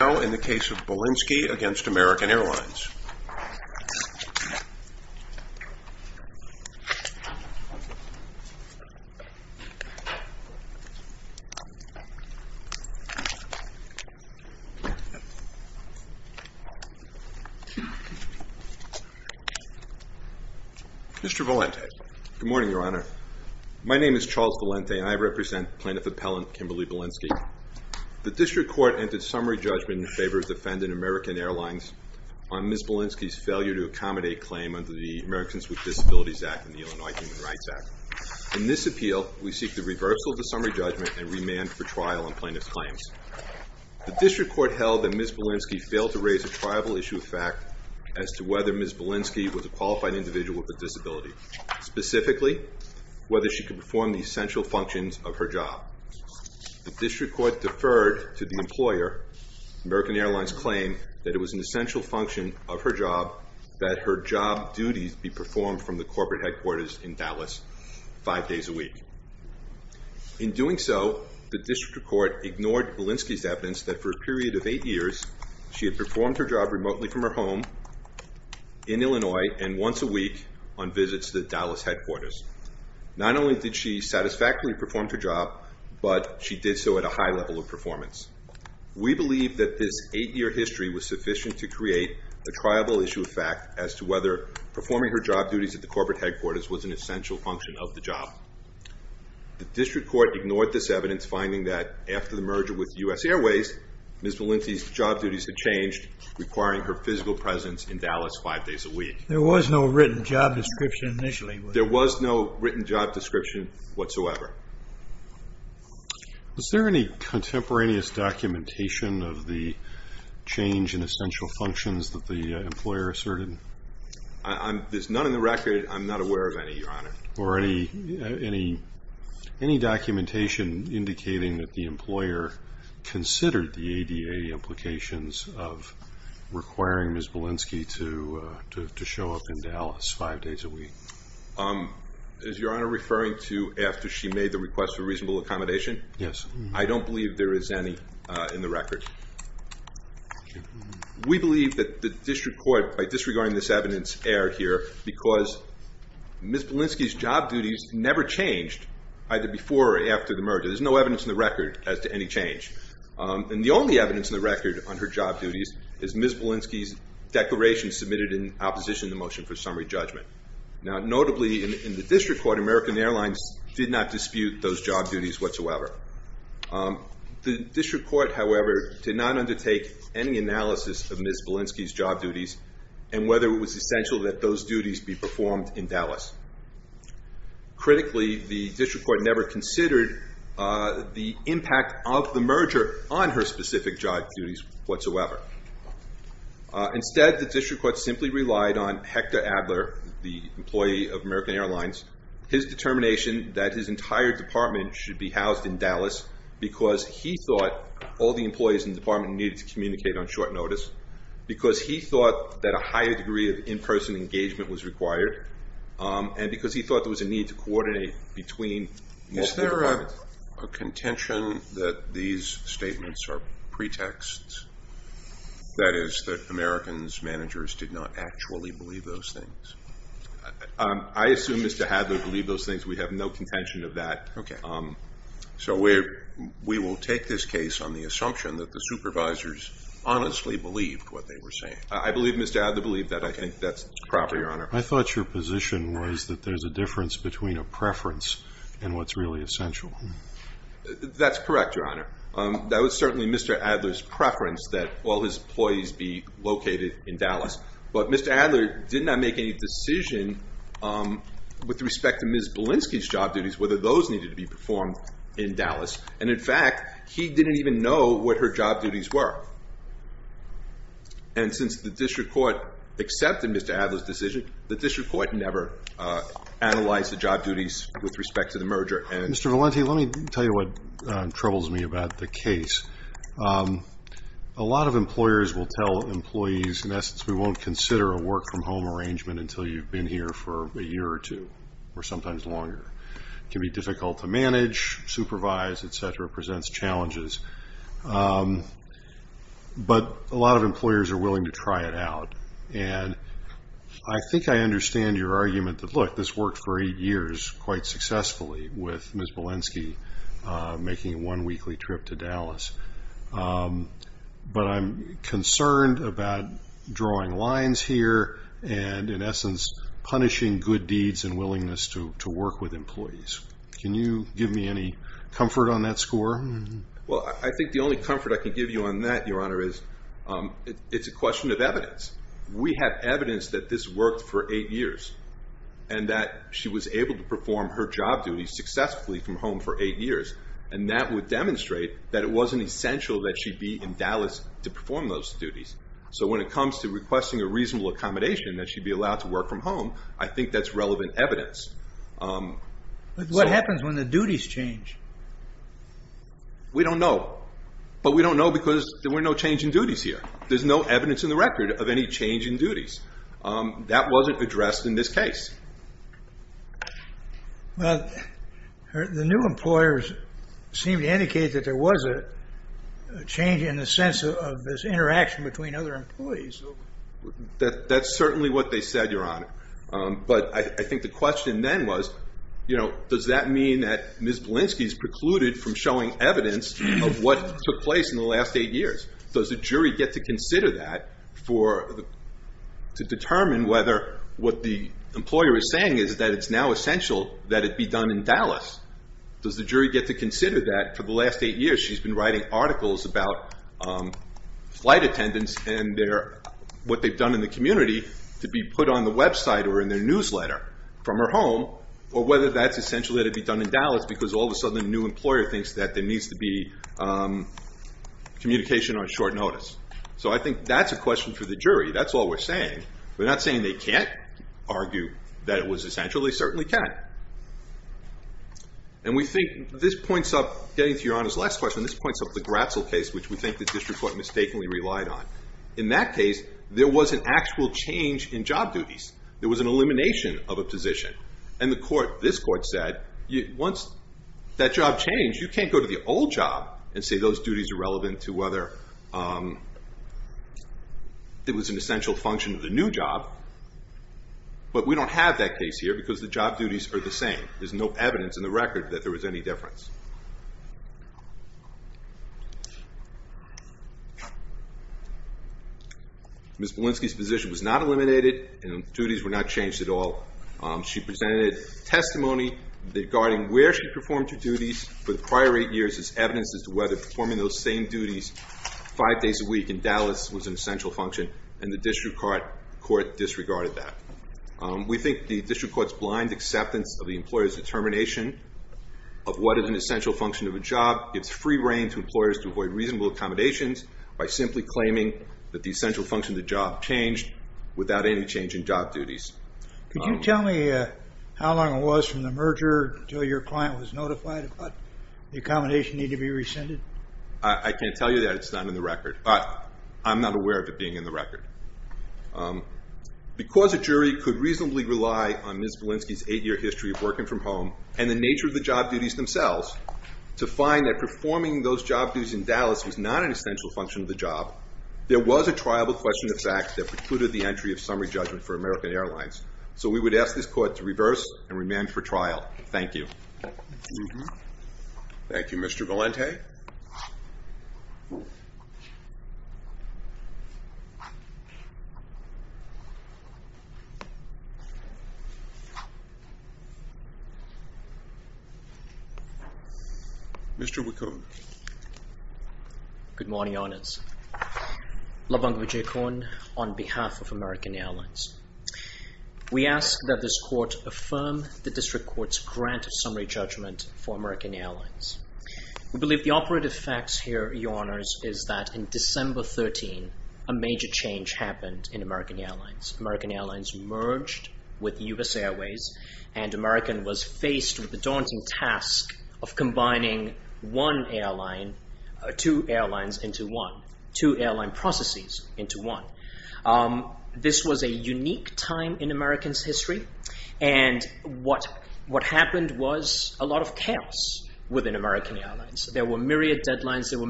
Now in the case of Bilinsky v. American Airlines. Mr. Valente. Good morning, Your Honor. My name is Charles Valente and I represent Plaintiff Appellant Kimberly Bilinsky. The District Court entered summary judgment in favor of the defendant, American Airlines, on Ms. Bilinsky's failure to accommodate a claim under the Americans with Disabilities Act and the Illinois Human Rights Act. In this appeal, we seek the reversal of the summary judgment and remand for trial on plaintiff's claims. The District Court held that Ms. Bilinsky failed to raise a triable issue of fact as to whether Ms. Bilinsky was a qualified individual with a disability, specifically whether she could perform the essential functions of her job. The District Court deferred to the employer, American Airlines, claim that it was an essential function of her job that her job duties be performed from the corporate headquarters in Dallas five days a week. In doing so, the District Court ignored Bilinsky's evidence that for a period of eight years she had performed her job remotely from her home in Illinois and once a week on visits to Dallas headquarters. Not only did she satisfactorily perform her job, but she did so at a high level of performance. We believe that this eight-year history was sufficient to create a triable issue of fact as to whether performing her job duties at the corporate headquarters was an essential function of the job. The District Court ignored this evidence, finding that after the merger with U.S. Airways, Ms. Bilinsky's job duties had changed, requiring her physical presence in Dallas five days a week. There was no written job description initially. There was no written job description whatsoever. Is there any contemporaneous documentation of the change in essential functions that the employer asserted? There's none on the record. I'm not aware of any, Your Honor. Any documentation indicating that the employer considered the ADA implications of requiring Ms. Bilinsky to show up in Dallas five days a week? Is Your Honor referring to after she made the request for reasonable accommodation? Yes. I don't believe there is any in the record. We believe that the District Court, by disregarding this evidence, erred here because Ms. Bilinsky's job duties never changed either before or after the merger. There's no evidence in the record as to any change. The only evidence in the record on her job duties is Ms. Bilinsky's declaration submitted in opposition to the motion for summary judgment. Notably, in the District Court, American Airlines did not dispute those job duties whatsoever. The District Court, however, did not undertake any analysis of Ms. Bilinsky's job duties and whether it was essential that those duties be performed in Dallas. Critically, the District Court never considered the impact of the merger on her specific job duties whatsoever. Instead, the District Court simply relied on Hector Adler, the employee of American Airlines, his determination that his entire department should be housed in Dallas because he thought all the employees in the department needed to communicate on short notice, because he thought that a higher degree of in-person engagement was required, and because he thought there was a need to coordinate between multiple departments. Is there a contention that these statements are pretexts? That is, that American's managers did not actually believe those things? I assume Mr. Adler believed those things. We have no contention of that. So we will take this case on the assumption that the supervisors honestly believed what they were saying. I believe Mr. Adler believed that. I think that's proper, Your Honor. I thought your position was that there's a difference between a preference and what's really essential. That's correct, Your Honor. That was certainly Mr. Adler's preference that all his employees be located in Dallas, but Mr. Adler did not make any decision with respect to Ms. Bilinsky's job duties, whether those needed to be performed in Dallas, and in fact, he didn't even know what her job duties were. And since the district court accepted Mr. Adler's decision, the district court never analyzed the job duties with respect to the merger. Mr. Valenti, let me tell you what troubles me about the case. A lot of employers will tell employees, in essence, we won't consider a work-from-home arrangement until you've been here for a year or two, or sometimes longer. It can be difficult to manage, supervise, et cetera, presents challenges, but a lot of employers are willing to try it out. I think I understand your argument that, look, this worked for eight years quite successfully with Ms. Bilinsky making a one-weekly trip to Dallas, but I'm concerned about drawing lines here and, in essence, punishing good deeds and willingness to work with employees. Can you give me any comfort on that score? Well, I think the only comfort I can give you on that, Your Honor, is it's a question of evidence. We have evidence that this worked for eight years and that she was able to perform her job duties successfully from home for eight years, and that would demonstrate that it wasn't essential that she be in Dallas to perform those duties. So when it comes to requesting a reasonable accommodation that she'd be allowed to work from home, I think that's relevant evidence. What happens when the duties change? We don't know, but we don't know because there were no change in duties here. There's no evidence in the record of any change in duties. That wasn't addressed in this case. The new employers seem to indicate that there was a change in the sense of this interaction between other employees. That's certainly what they said, Your Honor, but I think the question then was, does that mean that Ms. Belinsky is precluded from showing evidence of what took place in the last eight years? Does the jury get to consider that to determine whether what the employer is saying is that it's now essential that it be done in Dallas? Does the jury get to consider that for the last eight years she's been writing articles about flight attendance and what they've done in the community to be put on the website or in their newsletter from her home, or whether that's essential that it be done in Dallas because all of a sudden a new employer thinks that there needs to be communication on short notice? So I think that's a question for the jury. That's all we're saying. We're not saying they can't argue that it was essential. They certainly can. And we think this points up, getting to Your Honor's last question, this points up the Bratzel case, which we think the district court mistakenly relied on. In that case, there was an actual change in job duties. There was an elimination of a position. And this court said, once that job changed, you can't go to the old job and say those duties are relevant to whether it was an essential function of the new job. But we don't have that case here because the job duties are the same. There's no evidence in the record that there was any difference. Ms. Belinsky's position was not eliminated and duties were not changed at all. She presented testimony regarding where she performed her duties for the prior eight years as evidence as to whether performing those same duties five days a week in Dallas was an essential function, and the district court disregarded that. We think the district court's blind acceptance of the employer's determination of what is an essential function of a job gives free reign to employers to avoid reasonable accommodations by simply claiming that the essential function of the job changed without any change in job duties. Could you tell me how long it was from the merger until your client was notified about the accommodation needed to be rescinded? I can't tell you that. It's not in the record. But I'm not aware of it being in the record. Because a jury could reasonably rely on Ms. Belinsky's eight-year history of working from home and the nature of the job duties themselves, to find that performing those job duties in Dallas was not an essential function of the job, there was a trial with question of facts that precluded the entry of summary judgment for American Airlines. So we would ask this court to reverse and remand for trial. Thank you. Thank you, Mr. Valente. Mr. Okay. Mr. Wickham. Good morning, Honours. Labong Vijayakorn on behalf of American Airlines. We ask that this court affirm the district court's grant of summary judgment for American Airlines. We believe the operative facts here, Your Honours, is that in December 13, a major change happened in American Airlines. American Airlines merged with U.S. Airways, and American was faced with the daunting task of combining one airline, two airlines into one, two airline processes into one. This was a unique time in American's history, and what happened was a lot of chaos within American Airlines. There were myriad deadlines, there were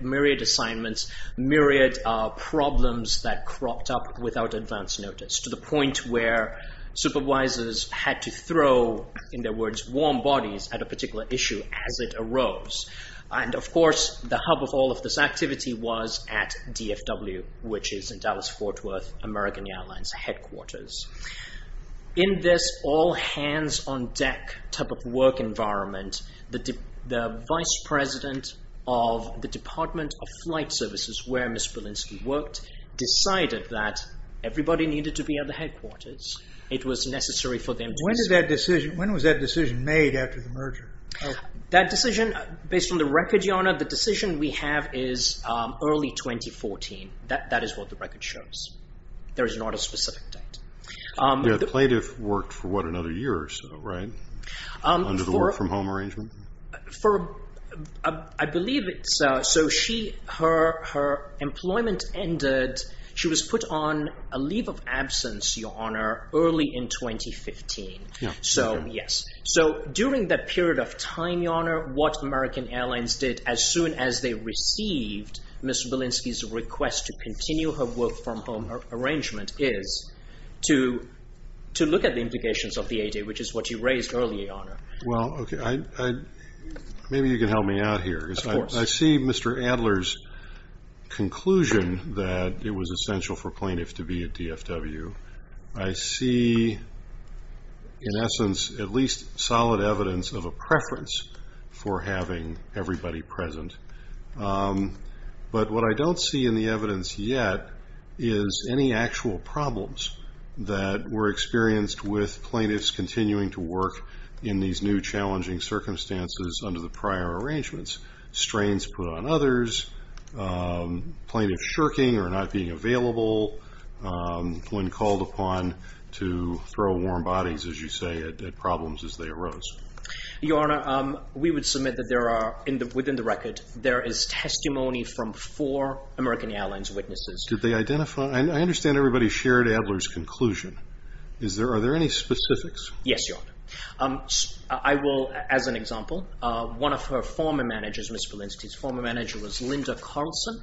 myriad assignments, myriad problems that cropped up without advance notice, to the point where supervisors had to throw, in their words, warm bodies at a particular issue as it arose. And of course, the hub of all of this activity was at DFW, which is in Dallas-Fort Worth, American Airlines headquarters. In this all-hands-on-deck type of work environment, the vice president of the Department of Flight Services, where Ms. Bielinski worked, decided that everybody needed to be at the headquarters. It was necessary for them to be... When was that decision made after the merger? That decision, based on the record, Your Honour, the decision we have is early 2014. That is what the record shows. There is not a specific date. The plaintiff worked for, what, another year or so, right, under the work-from-home arrangement? I believe it's... So her employment ended. She was put on a leave of absence, Your Honour, early in 2015. Yes. So during that period of time, Your Honour, what American Airlines did, as soon as they made this request to continue her work-from-home arrangement, is to look at the implications of the ADA, which is what you raised earlier, Your Honour. Well, okay, maybe you can help me out here. Of course. I see Mr. Adler's conclusion that it was essential for plaintiffs to be at DFW. I see, in essence, at least solid evidence of a preference for having everybody present. But what I don't see in the evidence yet is any actual problems that were experienced with plaintiffs continuing to work in these new challenging circumstances under the prior arrangements. Strains put on others, plaintiffs shirking or not being available when called upon to throw warm bodies, as you say, at problems as they arose. Your Honour, we would submit that there are, within the record, there is testimony from four American Airlines witnesses. Did they identify? I understand everybody shared Adler's conclusion. Are there any specifics? Yes, Your Honour. I will, as an example, one of her former managers, Ms. Walensky's former manager was Linda Carlson.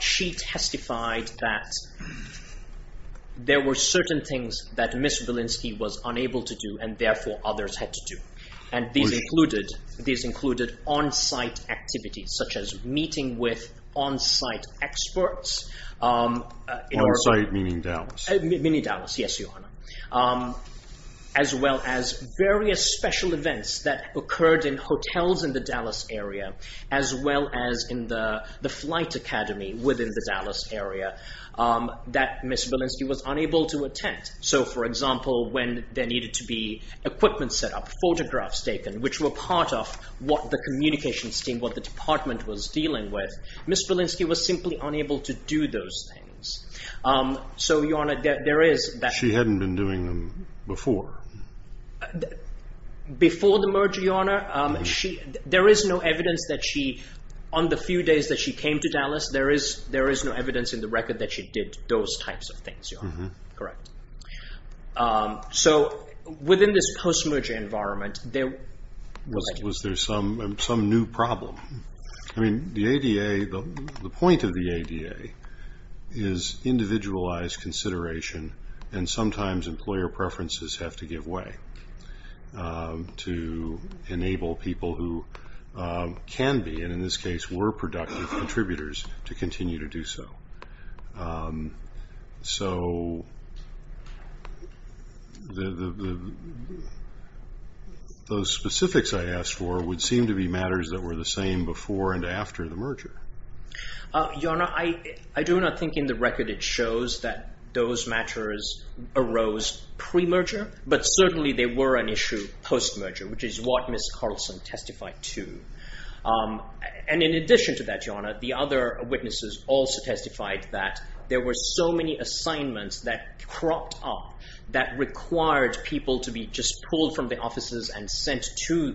She testified that there were certain things that Ms. Walensky was unable to do and therefore others had to do. These included on-site activities, such as meeting with on-site experts. On-site, meaning Dallas. Meaning Dallas, yes, Your Honour. As well as various special events that occurred in hotels in the Dallas area, as well as in the flight academy within the Dallas area that Ms. Walensky was unable to attend. For example, when there needed to be equipment set up, photographs taken, which were part of what the communications team, what the department was dealing with, Ms. Walensky was simply unable to do those things. So Your Honour, there is that. She hadn't been doing them before. Before the merger, Your Honour, there is no evidence that she, on the few days that she came to Dallas, there is no evidence in the record that she did those types of things, Your Honour. Correct. So, within this post-merger environment, there was... Was there some new problem? I mean, the ADA, the point of the ADA is individualized consideration and sometimes employer preferences have to give way to enable people who can be, and in this case were, productive contributors to continue to do so. So, those specifics I asked for would seem to be matters that were the same before and after the merger. Your Honour, I do not think in the record it shows that those matters arose pre-merger, but certainly they were an issue post-merger, which is what Ms. Carlson testified to. In addition to that, Your Honour, the other witnesses also testified that there were so many assignments that cropped up that required people to be just pulled from the offices and sent to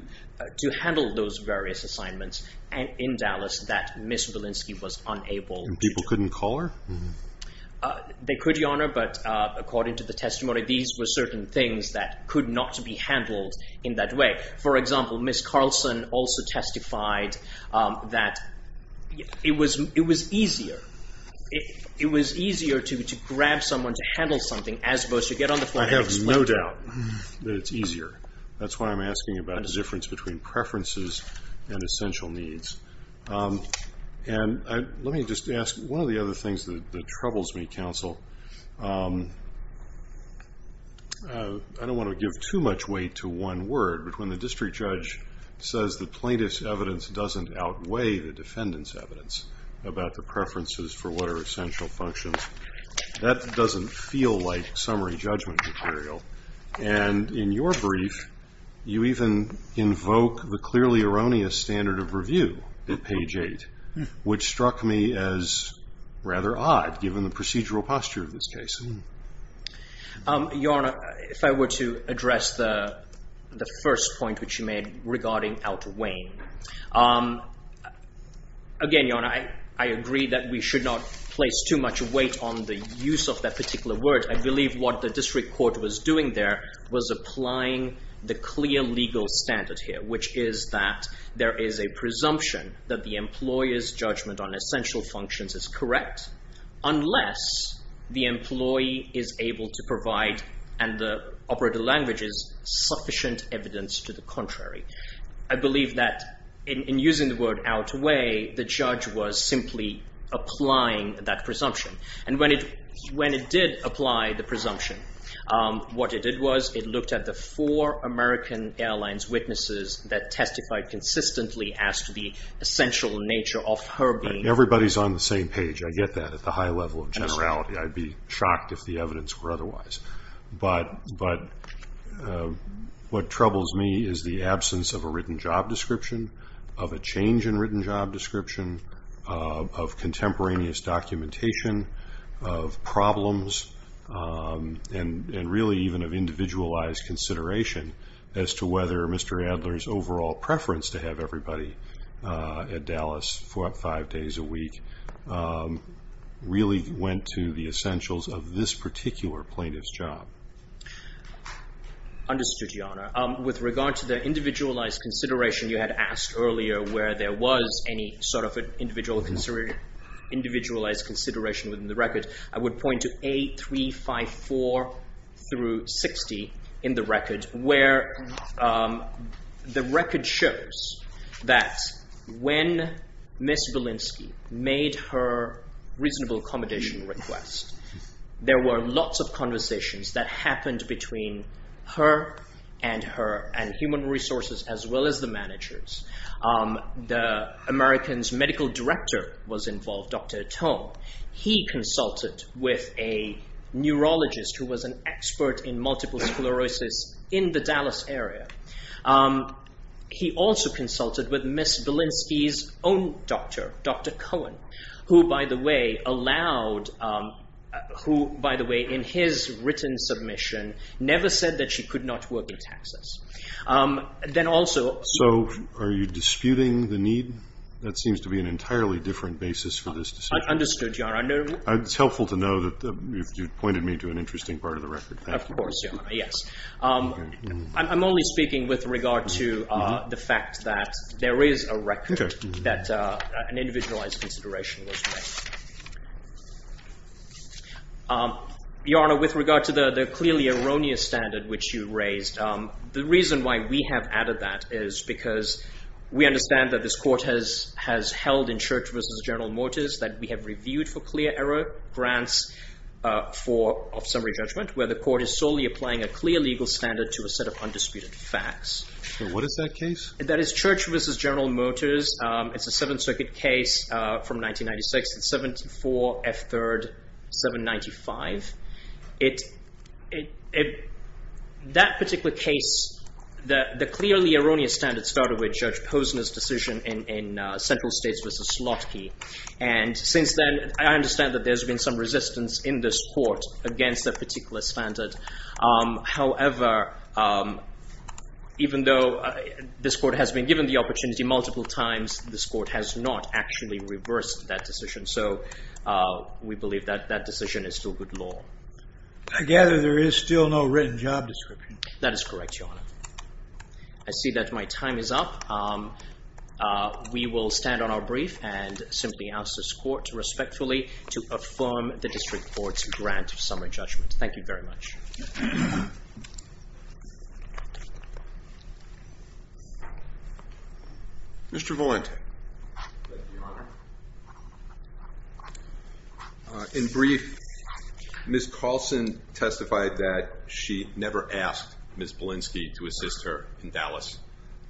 handle those various assignments in Dallas that Ms. Belinsky was unable to do. People couldn't call her? They could, Your Honour, but according to the testimony, these were certain things that could not be handled in that way. For example, Ms. Carlson also testified that it was easier to grab someone to handle something as opposed to get on the floor and explain it. I have no doubt that it's easier. That's why I'm asking about the difference between preferences and essential needs. Let me just ask, one of the other things that troubles me, counsel, I don't want to give too much weight to one word, but when the district judge says that plaintiff's evidence doesn't outweigh the defendant's evidence about the preferences for what are essential functions, that doesn't feel like summary judgment material. In your brief, you even invoke the clearly erroneous standard of review at page 8, which struck me as rather odd given the procedural posture of this case. Your Honour, if I were to address the first point which you made regarding outweighing. Again, Your Honour, I agree that we should not place too much weight on the use of that particular word. I believe what the district court was doing there was applying the clear legal standard here, which is that there is a presumption that the employer's judgment on essential functions is correct unless the employee is able to provide and the operator languages sufficient evidence to the contrary. I believe that in using the word outweigh, the judge was simply applying that presumption. When it did apply the presumption, what it did was it looked at the four American Airlines witnesses that testified consistently as to the essential nature of her being. Everybody's on the same page. I get that at the high level of generality. I'd be shocked if the evidence were otherwise. But what troubles me is the absence of a written job description, of a change in written job description, of contemporaneous documentation, of problems, and really even of individualized consideration as to whether Mr. Adler's overall preference to have everybody at Dallas five days a week really went to the essentials of this particular plaintiff's job. Understood, Your Honour. With regard to the individualized consideration you had asked earlier where there was any sort of an individualized consideration within the record, I would point to A354 through 60 in the record where the record shows that when Ms. Belinsky made her reasonable accommodation request, there were lots of conversations that happened between her and her and human resources as well as the managers. The American's medical director was involved, Dr. Aton. He consulted with a neurologist who was an expert in multiple sclerosis in the Dallas area. He also consulted with Ms. Belinsky's own doctor, Dr. Cohen, who by the way allowed, who by the way in his written submission never said that she could not work in Texas. So are you disputing the need? That seems to be an entirely different basis for this decision. Understood, Your Honour. It's helpful to know that you've pointed me to an interesting part of the record. Of course, Your Honour, yes. I'm only speaking with regard to the fact that there is a record that an individualized consideration was made. Your Honour, with regard to the clearly erroneous standard which you raised, the reason why we have added that is because we understand that this court has held in Church v. General Motors that we have reviewed for clear error grants of summary judgment where the court is solely applying a clear legal standard to a set of undisputed facts. What is that case? That is Church v. General Motors. It's a Seventh Circuit case from 1996. It's 74 F. 3rd, 795. That particular case, the clearly erroneous standard started with Judge Posner's decision in Central States v. Slotkey. And since then, I understand that there's been some resistance in this court against that particular standard. However, even though this court has been given the opportunity multiple times, this court has not actually reversed that decision. So we believe that that decision is still good law. I gather there is still no written job description. That is correct, Your Honour. I see that my time is up. We will stand on our brief and simply ask this court respectfully to affirm the district court's grant of summary judgment. Thank you very much. Mr. Valente. Thank you, Your Honour. In brief, Ms. Carlson testified that she never asked Ms. Balinski to assist her in Dallas.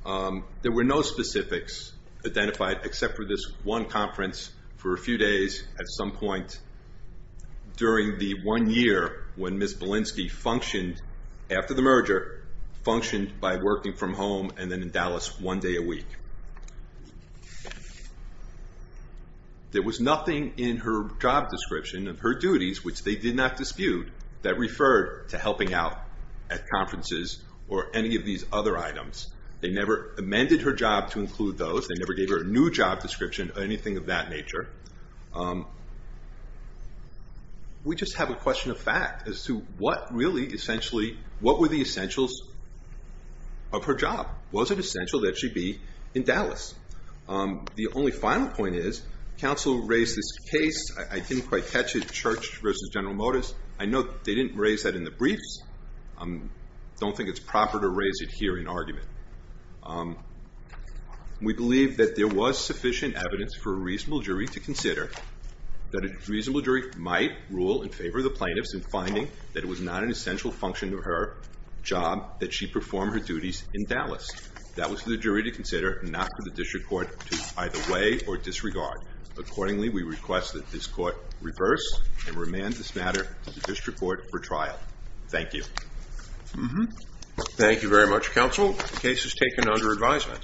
There were no specifics identified except for this one conference for a few days at some point during the one year when Ms. Balinski functioned after the merger, functioned by working from home and then in Dallas one day a week. There was nothing in her job description of her duties, which they did not dispute, that referred to helping out at conferences or any of these other items. They never amended her job to include those. They never gave her a new job description or anything of that nature. We just have a question of fact as to what really essentially, what were the essentials of her job? Was it essential that she be in Dallas? The only final point is, counsel raised this case. I didn't quite catch it, Church v. General Motors. I know they didn't raise that in the briefs. I don't think it's proper to raise it here in argument. We believe that there was sufficient evidence for a reasonable jury to consider that a reasonable jury might rule in favor of the plaintiffs in finding that it was not an essential function of her job that she perform her duties in Dallas. That was for the jury to consider, not for the district court to either weigh or disregard. Accordingly, we request that this court reverse and remand this matter to the district court for trial. Thank you. Thank you very much, counsel. The case is taken under advisement.